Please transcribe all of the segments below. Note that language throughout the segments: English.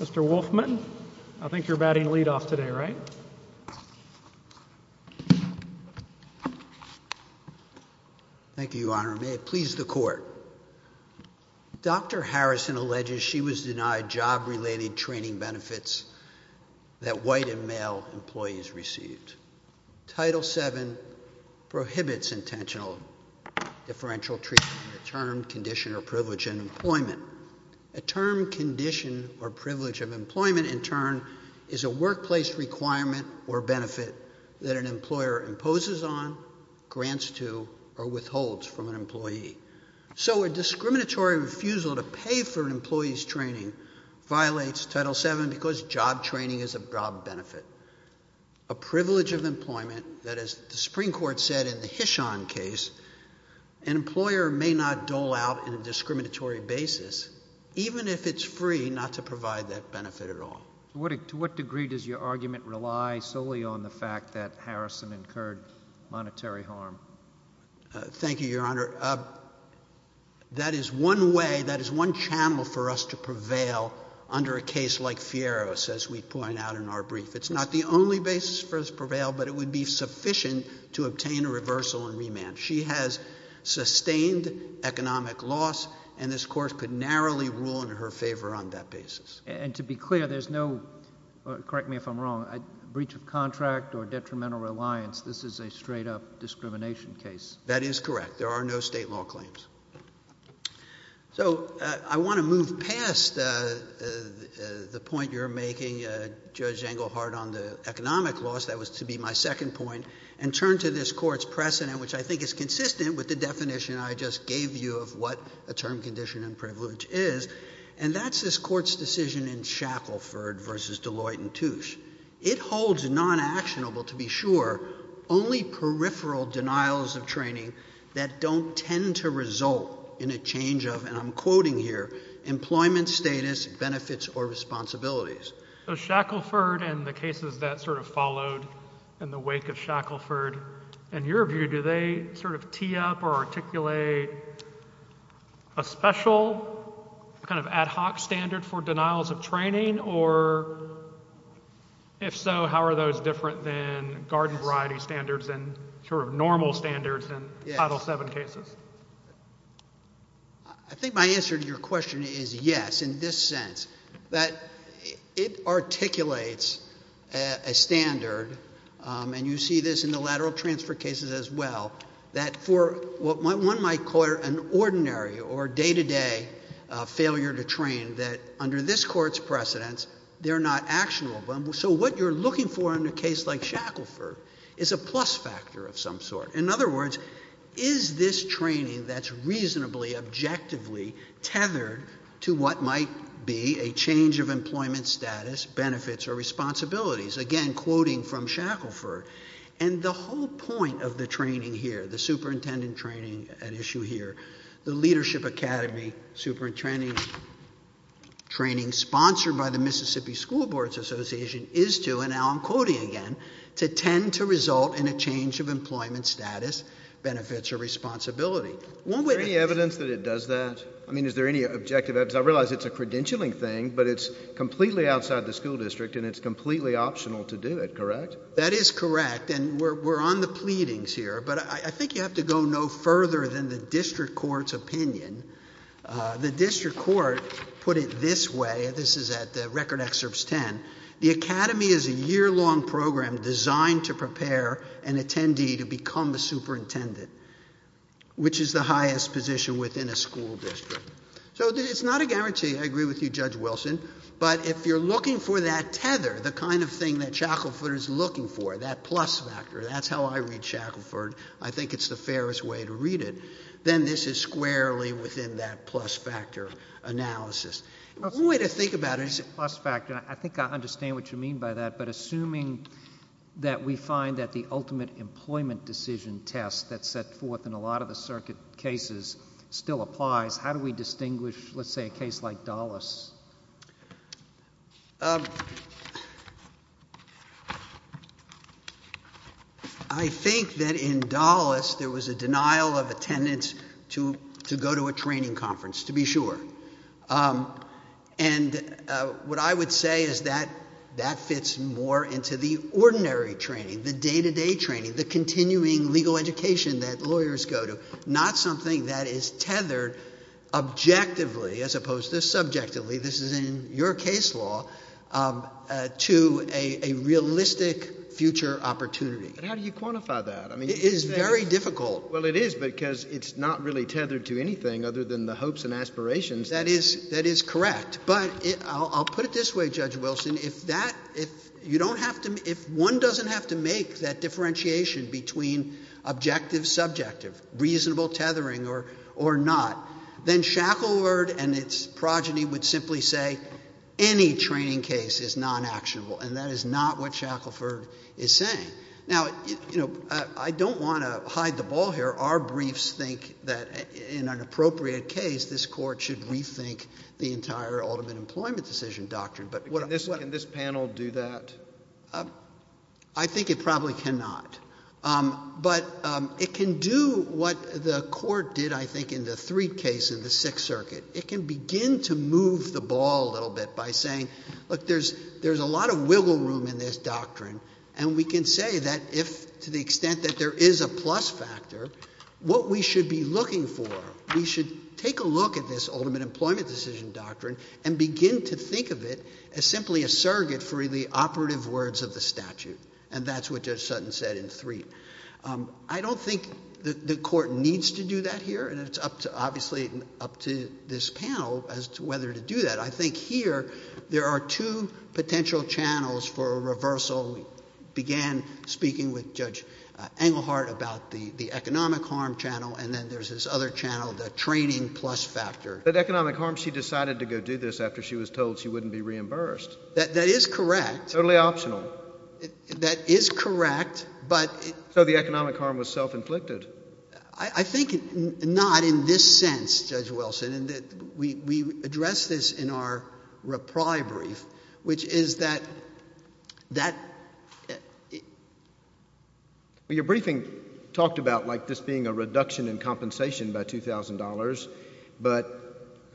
Mr. Wolfman, I think you're batting lead off today, right? Thank you, Your Honor. May it please the Court. Dr. Harrison alleges she was denied job-related training benefits that white and male employees received. Title VII prohibits intentional differential treatment, a term, condition, or privilege in employment. A term, condition, or privilege of employment, in turn, is a workplace requirement or benefit that an employer imposes on, grants to, or withholds from an employee. So a discriminatory refusal to pay for an employee's training violates Title VII because job training is a job benefit. A privilege of employment that, as the Supreme Court said in the Hishon case, an employer may not dole out on a discriminatory basis, even if it's free not to provide that benefit at all. To what degree does your argument rely solely on the fact that Harrison incurred monetary harm? Thank you, Your Honor. That is one way, that is one channel for us to prevail under a case like Fierro's, as we point out in our brief. It's not the only basis for us to prevail, but it would be sufficient to obtain a reversal and remand. She has sustained economic loss, and this Court could narrowly rule in her favor on that basis. And to be clear, there's no, correct me if I'm wrong, breach of contract or detrimental reliance. This is a straight-up discrimination case. That is correct. There are no state law claims. So I want to move past the point you're making, Judge Engelhardt, on the economic loss. That was to be my second point. And turn to this Court's precedent, which I think is consistent with the definition I just gave you of what a term condition and privilege is. And that's this Court's decision in Shackleford v. Deloitte & Touche. It holds non-actionable, to be sure, only peripheral denials of training that don't tend to result in a change of, and I'm quoting here, employment status, benefits, or responsibilities. So Shackleford and the cases that sort of followed in the wake of Shackleford, in your view, do they sort of tee up or articulate a special kind of ad hoc standard for denials of training? Or if so, how are those different than garden variety standards and sort of normal standards in Title VII cases? I think my answer to your question is yes, in this sense, that it articulates a standard, and you see this in the lateral transfer cases as well, that for what one might call an ordinary or day-to-day failure to train, that under this Court's precedents, they're not actionable. So what you're looking for in a case like Shackleford is a plus factor of some sort. In other words, is this training that's reasonably objectively tethered to what might be a change of employment status, benefits, or responsibilities? Again, quoting from Shackleford. And the whole point of the training here, the superintendent training at issue here, the Leadership Academy superintendent training sponsored by the Mississippi School Boards Association, is to, and now I'm quoting again, to tend to result in a change of employment status, benefits, or responsibility. Is there any evidence that it does that? I mean, is there any objective evidence? I realize it's a credentialing thing, but it's completely outside the school district and it's completely optional to do it, correct? That is correct, and we're on the pleadings here, but I think you have to go no further than the district court's opinion. The district court put it this way, this is at the Record Excerpts 10, the Academy is a year-long program designed to prepare an attendee to become a superintendent, which is the highest position within a school district. So it's not a guarantee, I agree with you, Judge Wilson, but if you're looking for that tether, the kind of thing that Shackleford is looking for, that plus factor, that's how I read Shackleford, I think it's the fairest way to read it, then this is squarely within that plus factor analysis. One way to think about it is... Plus factor, I think I understand what you mean by that, but assuming that we find that the ultimate employment decision test that's set forth in a lot of the circuit cases still applies, how do we distinguish, let's say, a case like Dulles? I think that in Dulles, there was a denial of attendance to go to a training conference, to be sure. And what I would say is that that fits more into the ordinary training, the day-to-day training, the continuing legal education that lawyers go to, not something that is tethered objectively, as opposed to subjectively, this is in your case law, to a realistic future opportunity. But how do you quantify that? It is very difficult. Well, it is because it's not really tethered to anything other than the hopes and aspirations. That is correct. But I'll put it this way, Judge Wilson, if one doesn't have to make that differentiation between objective-subjective, reasonable tethering or not, then Shackleford and its progeny would simply say any training case is non-actionable, and that is not what Shackleford is saying. Now, I don't want to hide the ball here. Our briefs think that in an appropriate case, this Court should rethink the entire ultimate employment decision doctrine. Can this panel do that? I think it probably cannot. But it can do what the Court did, I think, in the Threed case in the Sixth Circuit. It can begin to move the ball a little bit by saying, look, there's a lot of wiggle room in this doctrine, and we can say that if, to the extent that there is a plus factor, what we should be looking for, we should take a look at this ultimate employment decision doctrine and begin to think of it as simply a surrogate for the operative words of the statute. And that's what Judge Sutton said in Threed. I don't think the Court needs to do that here, and it's obviously up to this panel as to whether to do that. I think here there are two potential channels for a reversal. We began speaking with Judge Engelhardt about the economic harm channel, and then there's this other channel, the training plus factor. But economic harm, she decided to go do this after she was told she wouldn't be reimbursed. That is correct. Totally optional. That is correct, but... So the economic harm was self-inflicted. I think not in this sense, Judge Wilson. And we addressed this in our reply brief, which is that... Your briefing talked about, like, this being a reduction in compensation by $2,000, but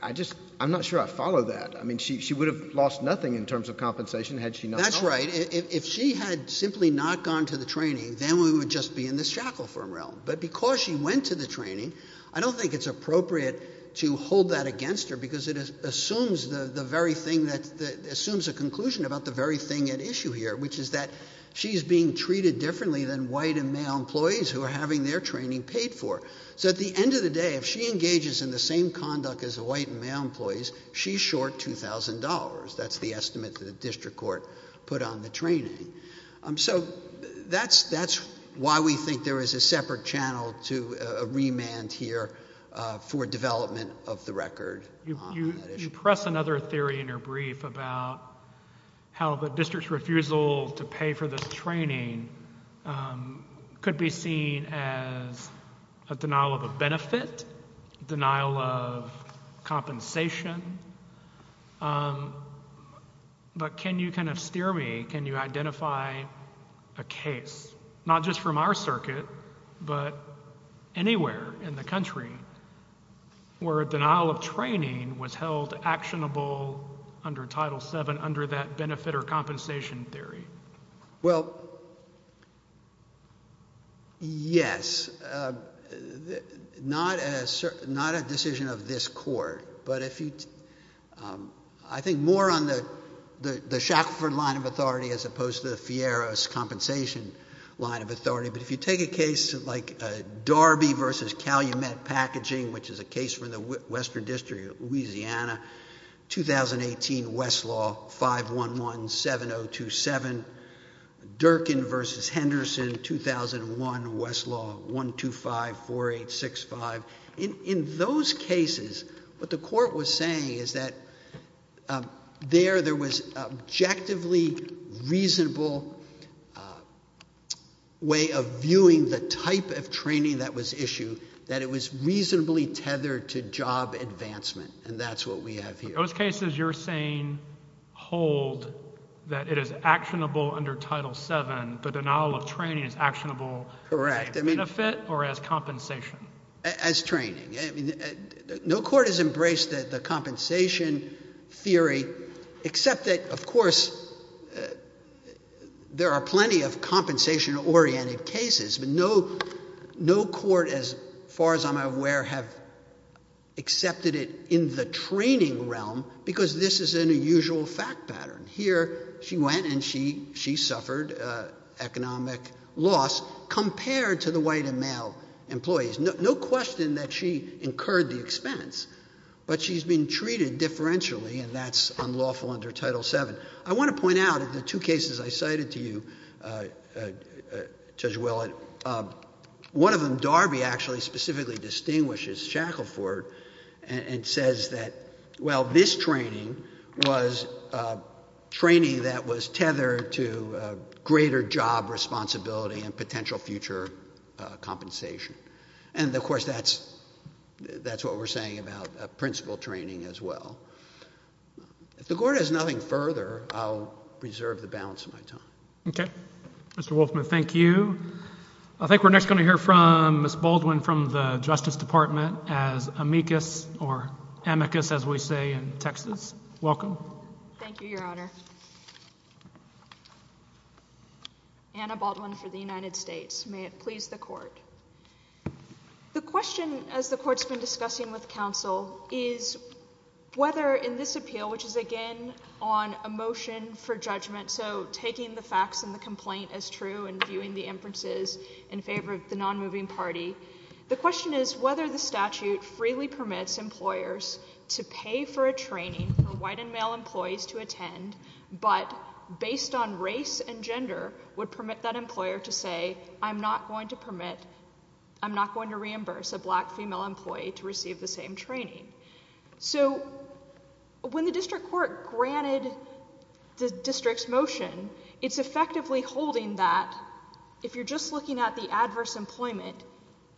I just... I'm not sure I follow that. I mean, she would have lost nothing in terms of compensation had she not known. That's right. If she had simply not gone to the training, then we would just be in this shackle-firm realm. But because she went to the training, I don't think it's appropriate to hold that against her because it assumes the very thing that... assumes a conclusion about the very thing at issue here, which is that she's being treated differently than white and male employees who are having their training paid for. So at the end of the day, if she engages in the same conduct as the white and male employees, she's short $2,000. That's the estimate that the district court put on the training. So that's why we think there is a separate channel to a remand here for development of the record. You press another theory in your brief about how the district's refusal to pay for this training could be seen as a denial of a benefit, denial of compensation. But can you kind of steer me? Can you identify a case, not just from our circuit, but anywhere in the country, where a denial of training was held actionable under Title VII, under that benefit or compensation theory? Well, yes. Not a decision of this court, but I think more on the Shackleford line of authority as opposed to the Fierro's compensation line of authority. But if you take a case like Darby v. Calumet Packaging, which is a case from the Western District of Louisiana, 2018 Westlaw 511-7027, Durkin v. Henderson, 2001 Westlaw 125-4865. In those cases, what the court was saying is that there was an objectively reasonable way of viewing the type of training that was issued, that it was reasonably tethered to job advancement, and that's what we have here. In those cases, you're saying, hold that it is actionable under Title VII, but denial of training is actionable as a benefit or as compensation? As training. No court has embraced the compensation theory, except that, of course, there are plenty of compensation-oriented cases, but no court, as far as I'm aware, have accepted it in the training realm because this is an unusual fact pattern. Here, she went and she suffered economic loss compared to the white and male employees. No question that she incurred the expense, but she's been treated differentially, and that's unlawful under Title VII. I want to point out that the two cases I cited to you, Judge Willett, one of them, Darby, actually specifically distinguishes Shackelford and says that, well, this training was training that was tethered to greater job responsibility and potential future compensation. And, of course, that's what we're saying about principal training as well. If the court has nothing further, I'll reserve the balance of my time. Okay. Mr. Wolfman, thank you. I think we're next going to hear from Ms. Baldwin from the Justice Department as amicus, or amicus, as we say in Texas. Welcome. Thank you, Your Honor. Anna Baldwin for the United States. May it please the Court. The question, as the Court's been discussing with counsel, is whether in this appeal, which is, again, on a motion for judgment, so taking the facts and the complaint as true and viewing the inferences in favor of the non-moving party, the question is whether the statute freely permits employers to pay for a training for white and male employees to attend, but based on race and gender, would permit that employer to say, I'm not going to permit, I'm not going to reimburse a black female employee to receive the same training. So when the district court granted the district's motion, it's effectively holding that, if you're just looking at the adverse employment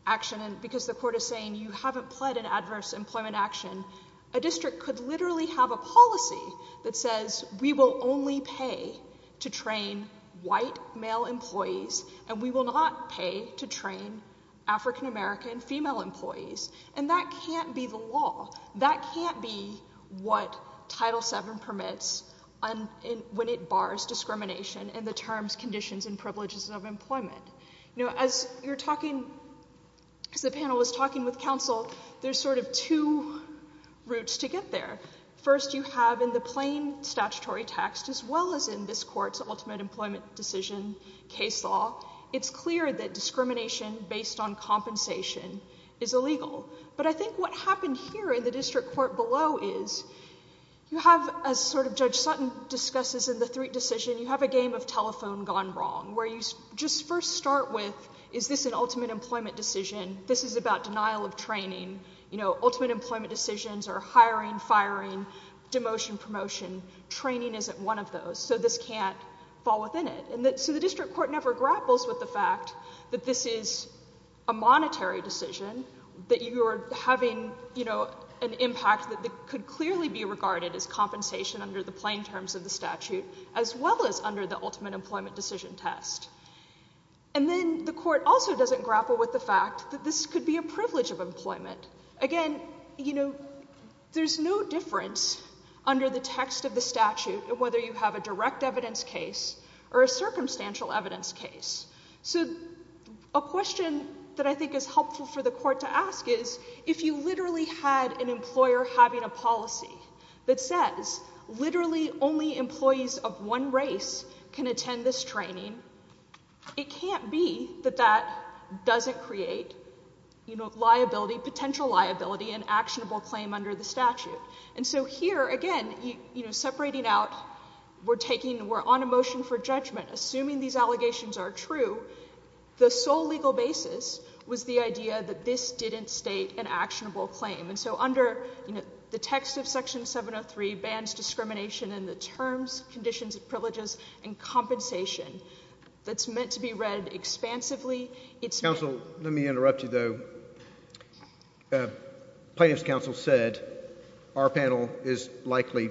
action, and because the court is saying you haven't pled an adverse employment action, a district could literally have a policy that says we will only pay to train white male employees and we will not pay to train African-American female employees, and that can't be the law. That can't be what Title VII permits when it bars discrimination and the terms, conditions, and privileges of employment. As the panel was talking with counsel, there's sort of two routes to get there. First, you have in the plain statutory text, as well as in this court's ultimate employment decision case law, it's clear that discrimination based on compensation is illegal, but I think what happened here in the district court below is you have, as sort of Judge Sutton discusses in the Threat Decision, you have a game of telephone gone wrong, where you just first start with, is this an ultimate employment decision? This is about denial of training. Ultimate employment decisions are hiring, firing, demotion, promotion. Training isn't one of those, so this can't fall within it. So the district court never grapples with the fact that this is a monetary decision, that you are having an impact that could clearly be regarded as compensation under the plain terms of the statute, as well as under the ultimate employment decision test. And then the court also doesn't grapple with the fact that this could be a privilege of employment. Again, you know, there's no difference under the text of the statute of whether you have a direct evidence case or a circumstantial evidence case. So a question that I think is helpful for the court to ask is, if you literally had an employer having a policy that says literally only employees of one race can attend this training, it can't be that that doesn't create, you know, liability, potential liability, an actionable claim under the statute. And so here, again, you know, separating out, we're taking, we're on a motion for judgment. Assuming these allegations are true, the sole legal basis was the idea that this didn't state an actionable claim. And so under, you know, the text of Section 703 bans discrimination in the terms, conditions, privileges, and compensation. That's meant to be read expansively. Counsel, let me interrupt you, though. Plaintiff's counsel said our panel is likely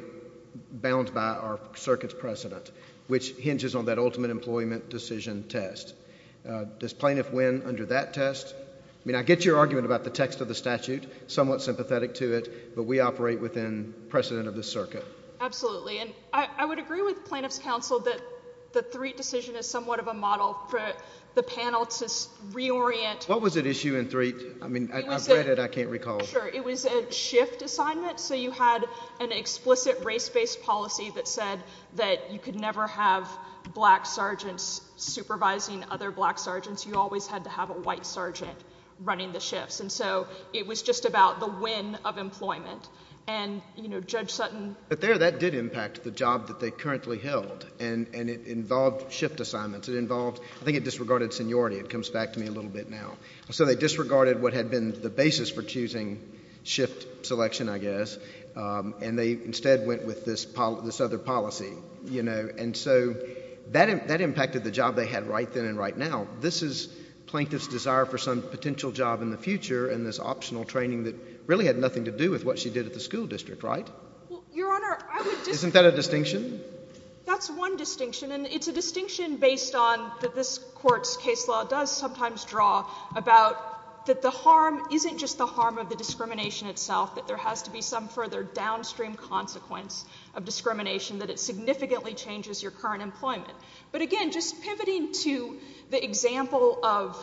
bound by our circuit's precedent, which hinges on that ultimate employment decision test. Does plaintiff win under that test? I mean, I get your argument about the text of the statute, somewhat sympathetic to it, but we operate within precedent of the circuit. Absolutely, and I would agree with plaintiff's counsel that the Threatt decision is somewhat of a model for the panel to reorient. What was at issue in Threatt? I mean, I've read it, I can't recall. Sure, it was a shift assignment. So you had an explicit race-based policy that said that you could never have black sergeants supervising other black sergeants. You always had to have a white sergeant running the shifts. And so it was just about the win of employment. And, you know, Judge Sutton... But there, that did impact the job that they currently held, and it involved shift assignments. It involved... I think it disregarded seniority. It comes back to me a little bit now. So they disregarded what had been the basis for choosing shift selection, I guess, and they instead went with this other policy, you know? And so that impacted the job they had right then and right now. And so it was plaintiff's desire for some potential job in the future and this optional training that really had nothing to do with what she did at the school district, right? Well, Your Honor, I would just... Isn't that a distinction? That's one distinction, and it's a distinction based on what this Court's case law does sometimes draw about that the harm isn't just the harm of the discrimination itself, that there has to be some further downstream consequence of discrimination, that it significantly changes your current employment. But again, just pivoting to the example of...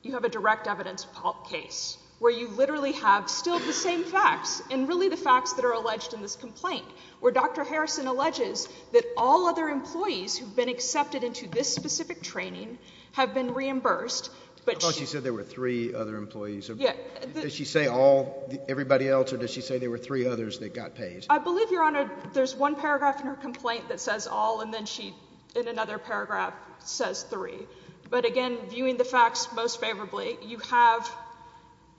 You have a direct evidence case where you literally have still the same facts, and really the facts that are alleged in this complaint, where Dr. Harrison alleges that all other employees who've been accepted into this specific training have been reimbursed, but she... I thought she said there were three other employees. Does she say all, everybody else, or does she say there were three others that got paid? I believe, Your Honor, there's one paragraph in her complaint that says all, and then she, in another paragraph, says three. But again, viewing the facts most favorably, you have...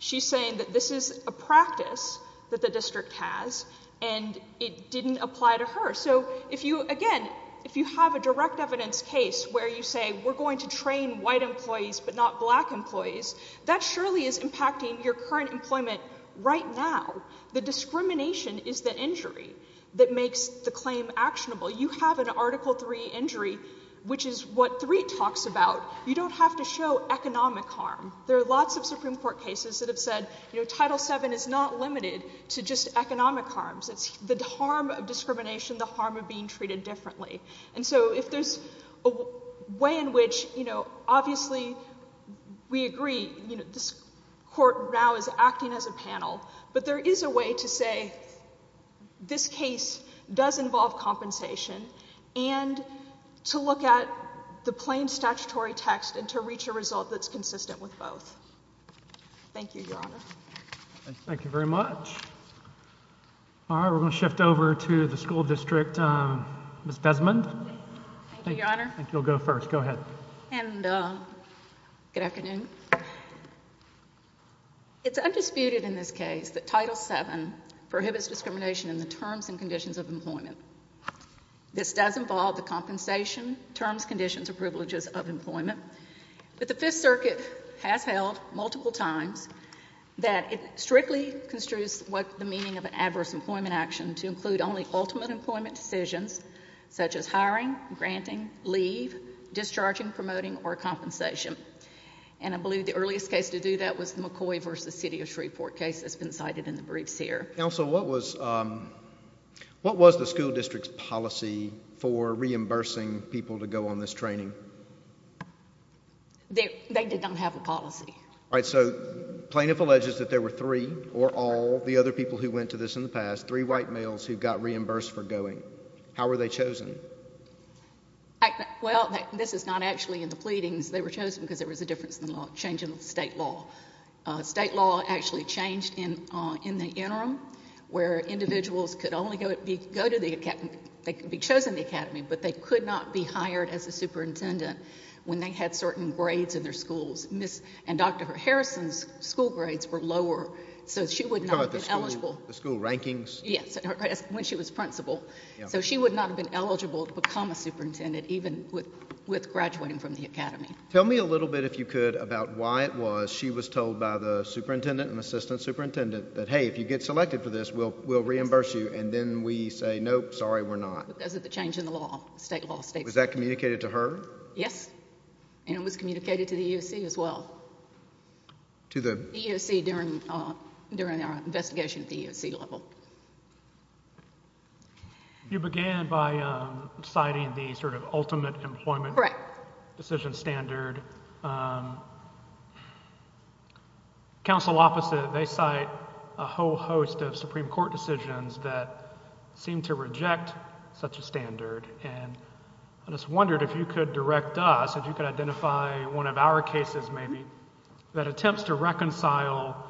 She's saying that this is a practice that the district has, and it didn't apply to her. So if you... Again, if you have a direct evidence case where you say, we're going to train white employees but not black employees, that surely is impacting your current employment right now. The discrimination is the injury that makes the claim actionable. You have an Article III injury, which is what III talks about. You don't have to show economic harm. There are lots of Supreme Court cases that have said, you know, Title VII is not limited to just economic harms. It's the harm of discrimination, the harm of being treated differently. And so if there's a way in which, you know, obviously we agree, you know, this court now is acting as a panel, but there is a way to say this case does involve compensation and to look at the plain statutory text and to reach a result that's consistent with both. Thank you, Your Honor. Thank you very much. All right, we're going to shift over to the school district. Ms. Desmond. Thank you, Your Honor. I think you'll go first. Go ahead. Good afternoon. It's undisputed in this case that Title VII prohibits discrimination in the terms and conditions of employment. This does involve the compensation, terms, conditions, or privileges of employment. But the Fifth Circuit has held multiple times that it strictly construes what the meaning of an adverse employment action to include only ultimate employment decisions, such as hiring, granting, leave, discharging, promoting, or compensation. And I believe the earliest case to do that was the McCoy v. City of Shreveport case that's been cited in the briefs here. Counsel, what was the school district's policy for reimbursing people to go on this training? They did not have a policy. All right, so plaintiff alleges that there were three, or all, the other people who went to this in the past, three white males who got reimbursed for going. How were they chosen? Well, this is not actually in the pleadings. They were chosen because there was a difference in changing the state law. State law actually changed in the interim where individuals could only go to the academy, they could be chosen in the academy, but they could not be hired as a superintendent when they had certain grades in their schools. And Dr. Harrison's school grades were lower, so she would not have been eligible. The school rankings? Yes, when she was principal. So she would not have been eligible to become a superintendent, even with graduating from the academy. Tell me a little bit, if you could, about why it was she was told by the superintendent and assistant superintendent that, hey, if you get selected for this, we'll reimburse you, and then we say, nope, sorry, we're not. Because of the change in the law, state law. Was that communicated to her? Yes, and it was communicated to the EEOC as well. To the? The EEOC during our investigation at the EEOC level. You began by citing the sort of ultimate employment... Correct. ...decision standard. Counsel opposite, they cite a whole host of Supreme Court decisions that seem to reject such a standard. And I just wondered if you could direct us, if you could identify one of our cases, maybe, that attempts to reconcile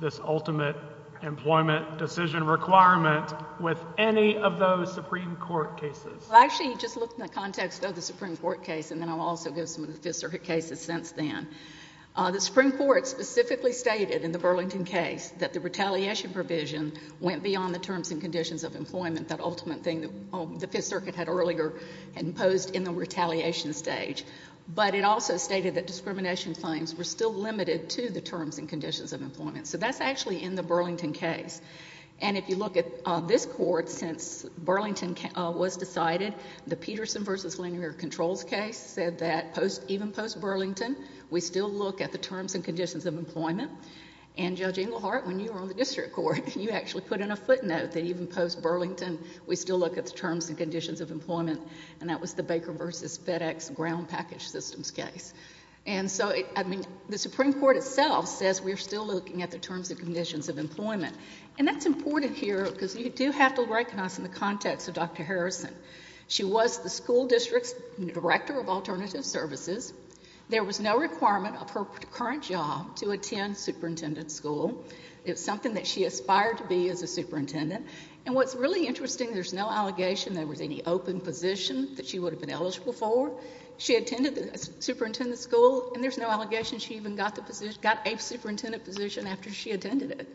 this ultimate employment decision requirement with any of those Supreme Court cases. Well, actually, you just look in the context of the Supreme Court case, and then I'll also give some of the Fifth Circuit cases since then. The Supreme Court specifically stated in the Burlington case that the retaliation provision went beyond the terms and conditions of employment, that ultimate thing that the Fifth Circuit had earlier imposed in the retaliation stage. But it also stated that discrimination claims were still limited to the terms and conditions of employment. So that's actually in the Burlington case. And if you look at this court, since Burlington was decided, the Peterson v. Langer controls case said that, even post-Burlington, we still look at the terms and conditions of employment. And Judge Englehart, when you were on the district court, you actually put in a footnote that even post-Burlington, we still look at the terms and conditions of employment, and that was the Baker v. FedEx ground package systems case. And so, I mean, the Supreme Court itself says we're still looking at the terms and conditions of employment. And that's important here because you do have to recognize in the context of Dr. Harrison. She was the school district's director of alternative services. There was no requirement of her current job to attend superintendent school. It's something that she aspired to be as a superintendent. And what's really interesting, there's no allegation there was any open position that she would have been eligible for. She attended the superintendent school, and there's no allegation she even got the position, got a superintendent position after she attended it.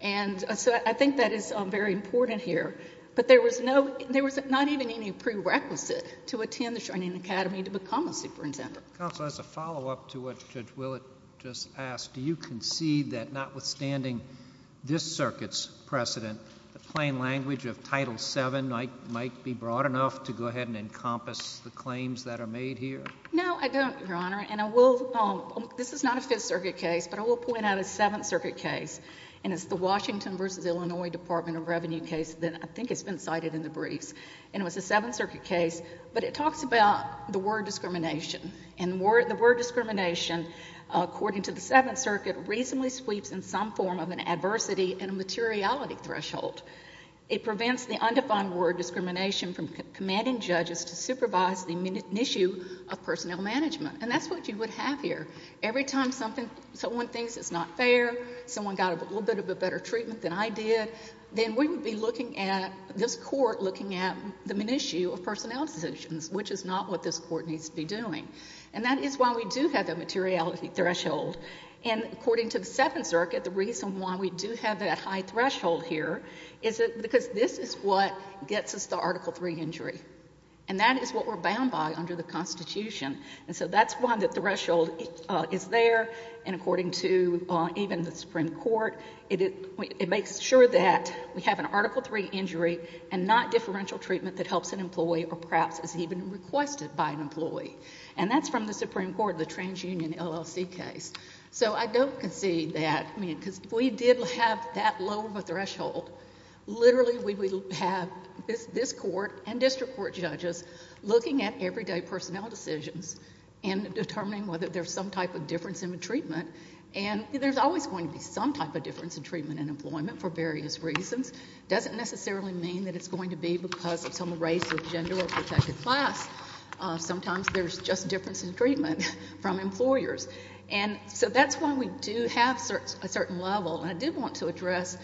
And so I think that is very important here. But there was not even any prerequisite to attend the Charney Academy to become a superintendent. Counsel, as a follow-up to what Judge Willett just asked, do you concede that notwithstanding this circuit's precedent, the plain language of Title VII might be broad enough to go ahead and encompass the claims that are made here? No, I don't, Your Honor. And this is not a Fifth Circuit case, but I will point out a Seventh Circuit case, and it's the Washington v. Illinois Department of Revenue case that I think has been cited in the briefs. And it was a Seventh Circuit case, but it talks about the word discrimination. And the word discrimination, according to the Seventh Circuit, reasonably sweeps in some form of an adversity and a materiality threshold. It prevents the undefined word discrimination from commanding judges to supervise the issue of personnel management. And that's what you would have here. Every time someone thinks it's not fair, someone got a little bit of a better treatment than I did, then we would be looking at, this Court, looking at the minutiae of personnel decisions, which is not what this Court needs to be doing. And that is why we do have that materiality threshold. And according to the Seventh Circuit, the reason why we do have that high threshold here is because this is what gets us to Article III injury. And that is what we're bound by under the Constitution. And so that's why the threshold is there. And according to even the Supreme Court, it makes sure that we have an Article III injury and not differential treatment that helps an employee or perhaps is even requested by an employee. And that's from the Supreme Court, the TransUnion LLC case. So I don't concede that. I mean, because if we did have that low of a threshold, literally we would have this Court and district court judges looking at everyday personnel decisions and determining whether there's some type of difference in the treatment. And there's always going to be some type of difference in treatment and employment for various reasons. It doesn't necessarily mean that it's going to be because of some race or gender or protected class. Sometimes there's just difference in treatment from employers. And so that's why we do have a certain level. And I did want to address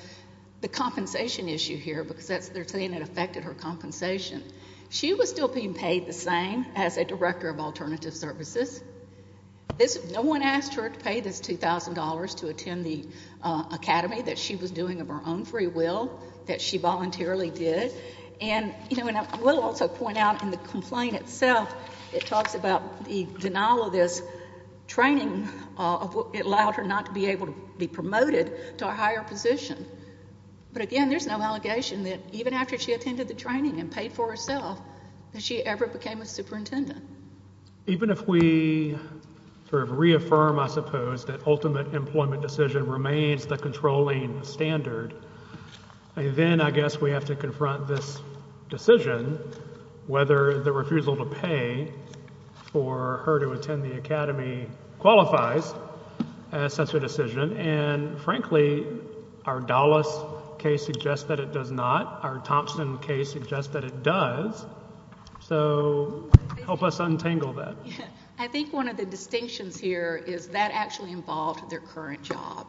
the compensation issue here because they're saying it affected her compensation. She was still being paid the same as a director of alternative services. No one asked her to pay this $2,000 to attend the academy that she was doing of her own free will, that she voluntarily did. And I will also point out in the complaint itself, it talks about the denial of this training. It allowed her not to be able to be promoted to a higher position. But again, there's no allegation that even after she attended the training and paid for herself, that she ever became a superintendent. Even if we sort of reaffirm, I suppose, that ultimate employment decision remains the controlling standard, then I guess we have to confront this decision whether the refusal to pay for her to attend the academy qualifies as such a decision. And frankly, our Dallas case suggests that it does not. Our Thompson case suggests that it does. So help us untangle that. I think one of the distinctions here is that actually involved their current job.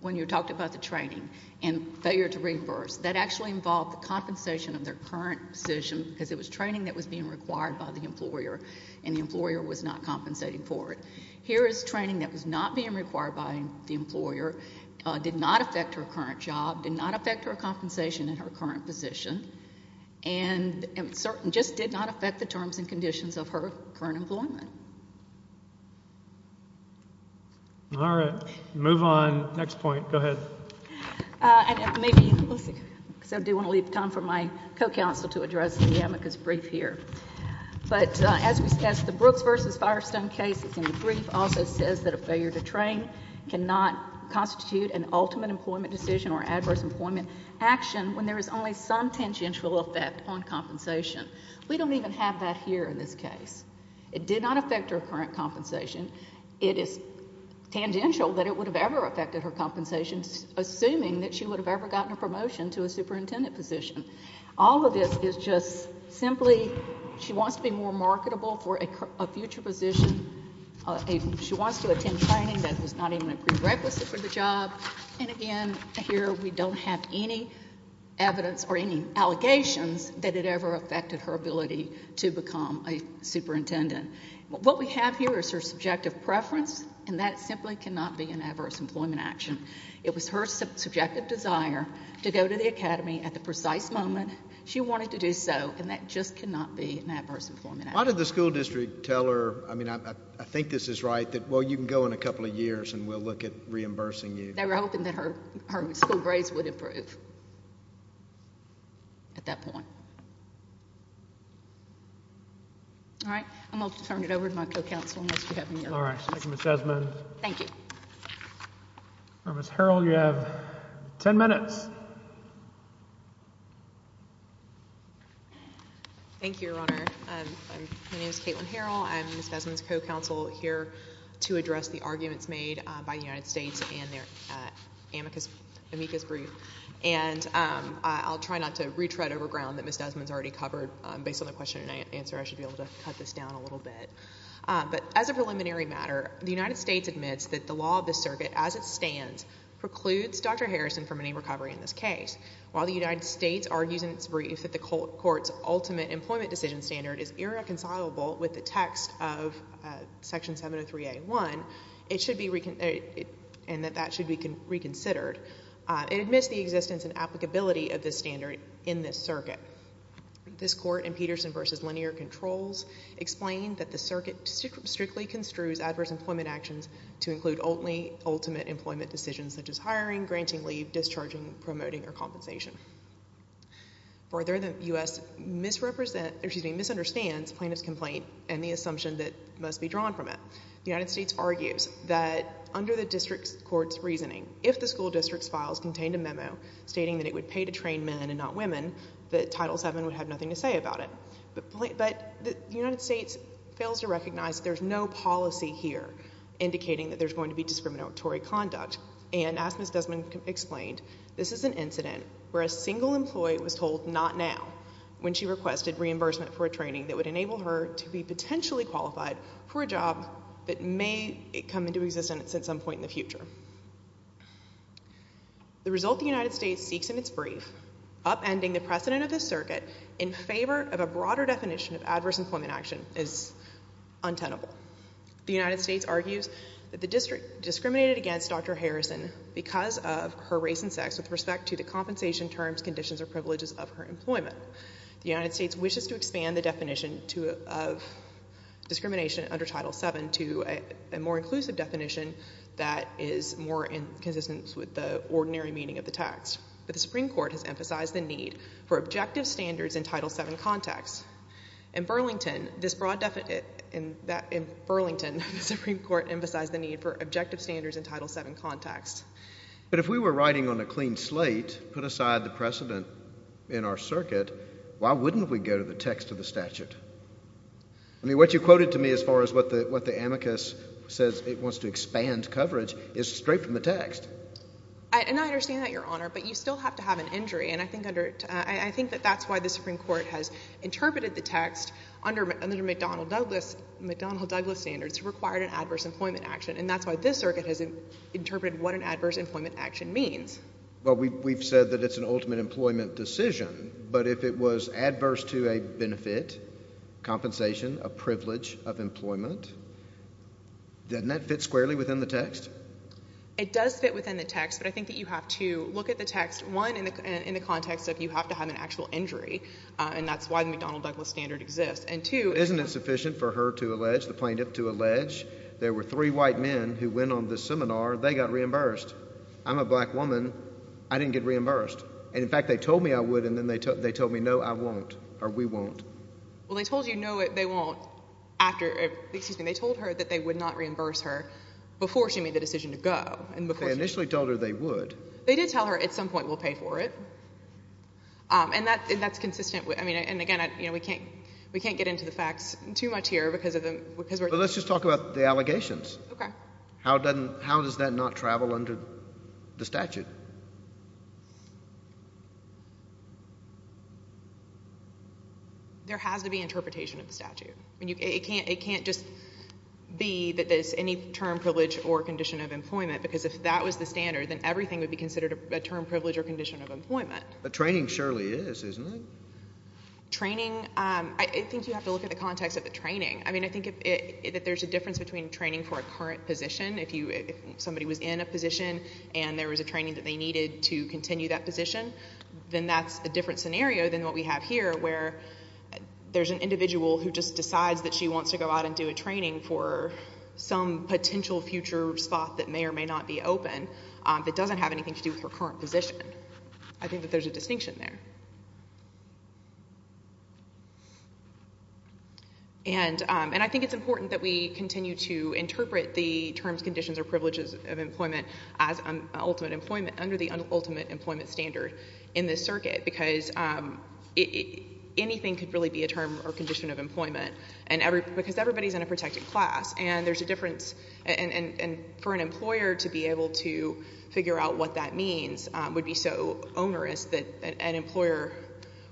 When you talked about the training and failure to reimburse, that actually involved the compensation of their current position, because it was training that was being required by the employer, and the employer was not compensating for it. Here is training that was not being required by the employer, did not affect her current job, did not affect her compensation in her current position, and just did not affect the terms and conditions of her current employment. All right. Move on. Next point. Go ahead. I do want to leave time for my co-counsel to address the amicus brief here. But as the Brooks v. Firestone case is in the brief, also says that a failure to train cannot constitute an ultimate employment decision or adverse employment action when there is only some tangential effect on compensation. We don't even have that here in this case. It did not affect her current compensation. It is tangential that it would have ever affected her compensation, assuming that she would have ever gotten a promotion to a superintendent position. All of this is just simply she wants to be more marketable for a future position. She wants to attend training that was not even a prerequisite for the job. And again, here we don't have any evidence or any allegations that it ever affected her ability to become a superintendent. What we have here is her subjective preference, and that simply cannot be an adverse employment action. It was her subjective desire to go to the academy at the precise moment she wanted to do so, and that just cannot be an adverse employment action. Why did the school district tell her, I mean, I think this is right, that, well, you can go in a couple of years and we'll look at reimbursing you? We're hoping that her school grades would improve at that point. All right. I'm going to turn it over to my co-counsel, unless you have any other questions. All right. Thank you, Ms. Gessman. Thank you. All right, Ms. Harrell, you have 10 minutes. Thank you, Your Honor. My name is Caitlin Harrell. I'm Ms. Gessman's co-counsel here to address the arguments made by the United States in their amicus brief, and I'll try not to retread over ground that Ms. Gessman's already covered. Based on the question and answer, I should be able to cut this down a little bit. But as a preliminary matter, the United States admits that the law of the circuit, as it stands, precludes Dr. Harrison from any recovery in this case. While the United States argues in its brief that the court's ultimate employment decision standard is irreconcilable with the text of Section 703A1, and that that should be reconsidered, it admits the existence and applicability of this standard in this circuit. This court in Peterson v. Linear Controls explained that the circuit strictly construes adverse employment actions to include only ultimate employment decisions, such as hiring, granting leave, discharging, promoting, or compensation. Further, the U.S. misrepresents, or excuse me, misunderstands plaintiff's complaint and the assumption that must be drawn from it. The United States argues that under the district court's reasoning, if the school district's files contained a memo stating that it would pay to train men and not women, that Title VII would have nothing to say about it. But the United States fails to recognize that there's no policy here indicating that there's going to be discriminatory conduct. And as Ms. Desmond explained, this is an incident where a single employee was told, not now, when she requested reimbursement for a training that would enable her to be potentially qualified for a job that may come into existence at some point in the future. The result the United States seeks in its brief, upending the precedent of the circuit in favor of a broader definition of adverse employment action is untenable. The United States argues that the district discriminated against Dr. Harrison because of her race and sex with respect to the compensation terms, conditions, or privileges of her employment. The United States wishes to expand the definition of discrimination under Title VII to a more inclusive definition that is more in consistence with the ordinary meaning of the text. But the Supreme Court has emphasized the need for objective standards in Title VII context. In Burlington, this broad definition... In Burlington, the Supreme Court emphasized the need for objective standards in Title VII context. But if we were writing on a clean slate, put aside the precedent in our circuit, why wouldn't we go to the text of the statute? I mean, what you quoted to me as far as what the amicus says it wants to expand coverage is straight from the text. And I understand that, Your Honor, but you still have to have an injury, and I think that's why the Supreme Court has interpreted the text under McDonnell-Douglas standards to require an adverse employment action, and that's why this circuit has interpreted what an adverse employment action means. Well, we've said that it's an ultimate employment decision, but if it was adverse to a benefit, compensation, a privilege of employment, doesn't that fit squarely within the text? It does fit within the text, but I think that you have to look at the text, one, in the context of you have to have an actual injury, and that's why the McDonnell-Douglas standard exists, and two... Isn't it sufficient for her to allege, the plaintiff to allege, there were three white men who went on this seminar, they got reimbursed. I'm a black woman. I didn't get reimbursed. And in fact, they told me I would, and then they told me, no, I won't, or we won't. Well, they told you, no, they won't, after, excuse me, they told her that they would not reimburse her before she made the decision to go, and before... They initially told her they would. They did tell her, at some point, we'll pay for it. And that's consistent with, I mean, and again, you know, we can't get into the facts too much here because we're... But let's just talk about the allegations. Okay. How does that not travel under the statute? There has to be interpretation of the statute. I mean, it can't just be that there's any term privilege or condition of employment, because if that was the standard, then everything would be considered a term privilege or condition of employment. But training surely is, isn't it? Training... I think you have to look at the context of the training. I mean, I think that there's a difference between training for a current position, and there was a training that they had to go to, and then they had to go to another position, and they needed to continue that position. Then that's a different scenario than what we have here, where there's an individual who just decides that she wants to go out and do a training for some potential future spot that may or may not be open that doesn't have anything to do with her current position. I think that there's a distinction there. And I think it's important that we continue to interpret the terms, conditions, or privileges of employment as ultimate employment, under the ultimate employment standard in this circuit, because anything could really be a term or condition of employment, because everybody's in a protected class, and there's a difference. And for an employer to be able to figure out what that means would be so onerous that an employer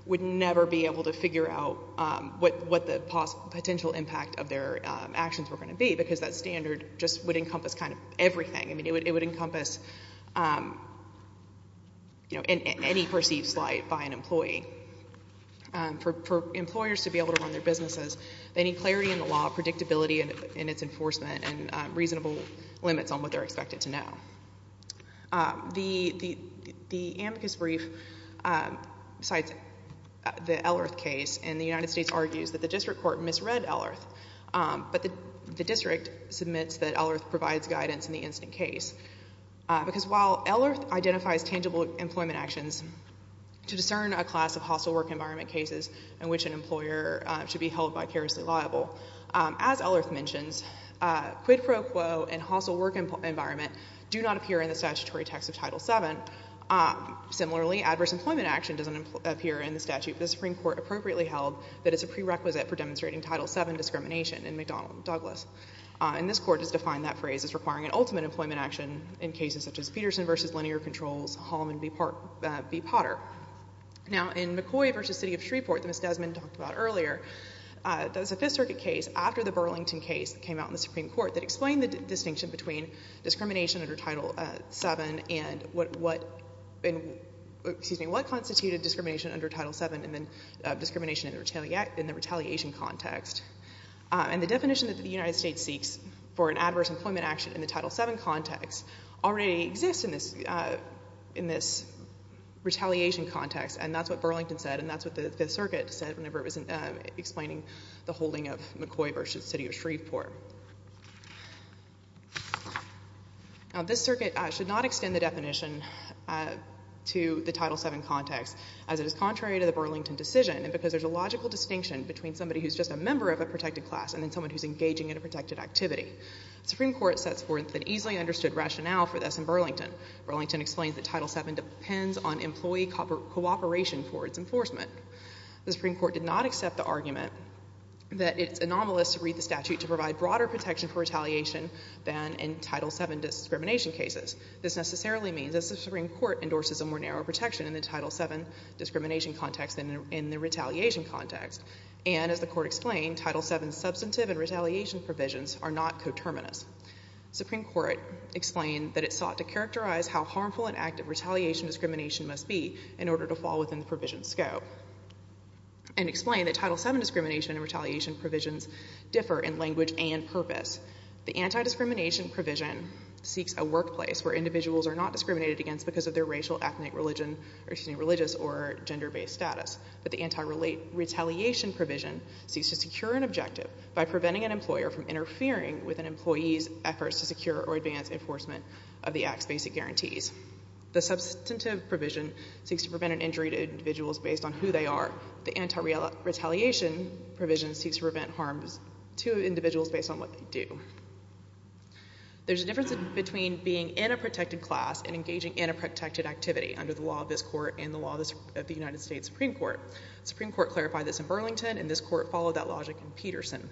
would never be able to figure out what the potential impact of their actions were going to be, because that standard just would encompass kind of everything. It would encompass any perceived slight by an employee. For employers to be able to run their businesses, they need clarity in the law, predictability in its enforcement, and reasonable limits on what they're expected to know. The amicus brief cites the Ellerth case, and the United States argues that the district court misread Ellerth, but the district submits that Ellerth provides guidance in the incident case. Because while Ellerth identifies tangible employment actions to discern a class of hostile work environment cases in which an employer should be held vicariously liable, as Ellerth mentions, quid pro quo and hostile work environment do not appear in the statutory text of Title VII. Similarly, adverse employment action doesn't appear in the statute, but the Supreme Court appropriately held that it's a prerequisite for demonstrating Title VII discrimination in McDonnell and Douglas. And this court has defined that phrase as requiring an ultimate employment action in cases such as Peterson v. Linear Controls, Hallman v. Potter. Now, in McCoy v. City of Shreveport, that Ms. Desmond talked about earlier, there's a Fifth Circuit case after the Burlington case that came out in the Supreme Court that explained the distinction between discrimination under Title VII and what, excuse me, what constituted discrimination under Title VII and then discrimination in the retaliation context. And the definition that the United States seeks for an adverse employment action in the Title VII context already exists in this retaliation context, and that's what Burlington said and that's what the Fifth Circuit said whenever it was explaining the holding of McCoy v. City of Shreveport. Now, this circuit should not extend the definition to the Title VII context as it is contrary to the Burlington decision and because there's a logical distinction between somebody who's just a member of a protected class and then someone who's engaging in a protected activity. The Supreme Court sets forth an easily understood rationale for this in Burlington. Burlington explains that Title VII depends on employee cooperation for its enforcement. The Supreme Court did not accept the argument that it's anomalous to read the statute to provide broader protection for retaliation than in Title VII discrimination cases. This necessarily means that the Supreme Court endorses a more narrow protection in the Title VII discrimination context than in the retaliation context. And as the court explained, Title VII substantive and retaliation provisions are not coterminous. Supreme Court explained that it sought to characterize how harmful an act of retaliation discrimination must be in order to fall within the provision scope and explained that Title VII discrimination and retaliation provisions differ in language and purpose. The anti-discrimination provision seeks a workplace where individuals are not discriminated against because of their racial, ethnic, religion, excuse me, religious or gender-based status but the anti-retaliation provision seeks to secure an objective by preventing an employer from interfering with an employee's efforts to secure or advance enforcement of the act's basic guarantees. The substantive provision seeks to prevent an injury to individuals based on who they are. The anti-retaliation provision seeks to prevent harm to individuals based on what they do. There's a difference between being in a protected class and engaging in a protected activity under the law of this court and the law of the United States Supreme Court. The Supreme Court clarified this in Burlington and the court followed that logic in Peterson.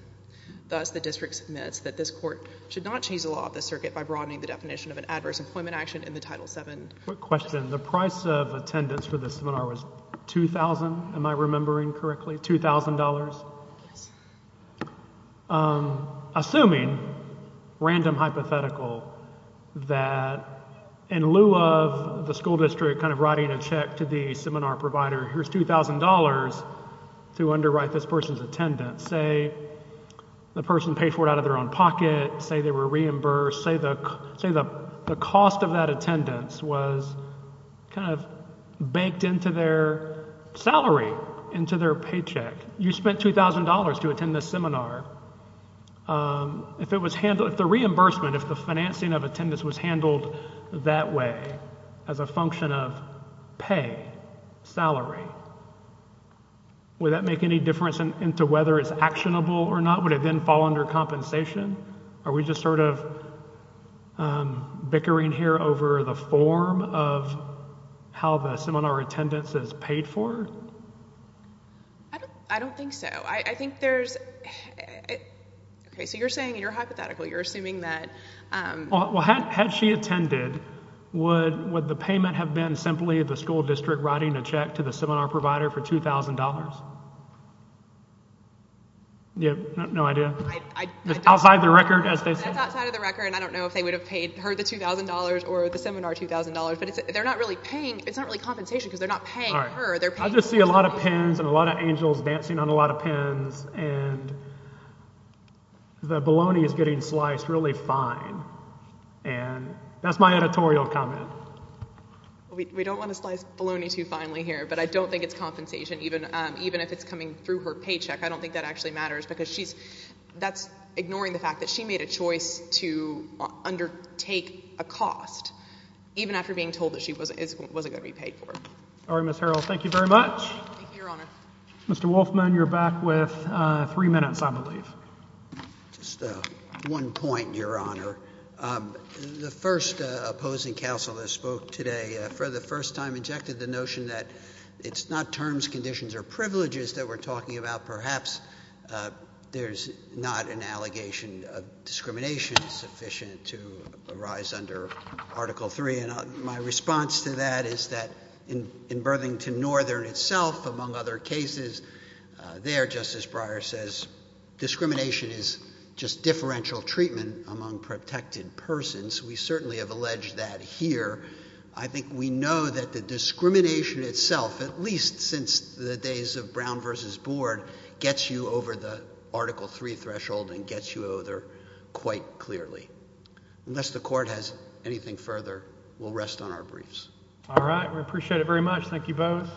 Thus, the district submits that this court should not change the law of the circuit by broadening the definition of an adverse employment action in the Title VII. Quick question. The price of attendance for this seminar was 2,000, am I remembering correctly, $2,000? Yes. Assuming, random hypothetical, that in lieu of the school district kind of writing a check to the seminar provider, here's $2,000 to underwrite this person's attendance. Say the person paid for it out of their own pocket. Say they were reimbursed. Say the cost of that attendance was kind of baked into their salary, into their paycheck. You spent $2,000 to attend this seminar. If the reimbursement, if the financing of attendance was handled that way as a function of pay, salary, would that make any difference into whether it's actionable or not? Would it then fall under compensation? Are we just sort of bickering here over the form of how the seminar attendance is paid for? I don't think so. I think there's... Okay, so you're saying you're hypothetical. You're assuming that... Well, had she attended, would the payment have been simply the school district writing a check to the seminar provider for $2,000? You have no idea? It's outside the record as they say? It's outside of the record. I don't know if they would have paid her the $2,000 or the seminar $2,000, but they're not really paying... It's not really compensation because they're not paying her. I just see a lot of pens and a lot of angels dancing on a lot of pens and the bologna is getting sliced really fine. And that's my editorial comment. We don't want to slice bologna too finely here, but I don't think it's compensation. Even if it's coming through her paycheck, I don't think that actually matters because she's... That's ignoring the fact that she made a choice to undertake a cost even after being told that she wasn't going to be paid for it. All right, Ms. Harrell, thank you very much. Thank you, Your Honor. Mr. Wolfman, you're back with three minutes, I believe. Just one point, Your Honor. The first opposing counsel that spoke today for the first time injected the notion that it's not terms, conditions, or privileges that we're talking about. Perhaps there's not an allegation of discrimination sufficient to arise under Article III, and my response to that is that in Birthington Northern itself, among other cases, there, Justice Breyer says, discrimination is just differential treatment among protected persons. We certainly have alleged that here. I think we know that the discrimination itself, at least since the days of Brown v. Board, gets you over the Article III threshold and gets you over there quite clearly. Unless the Court has anything further, we'll rest on our briefs. All right, we appreciate it very much. Thank you both.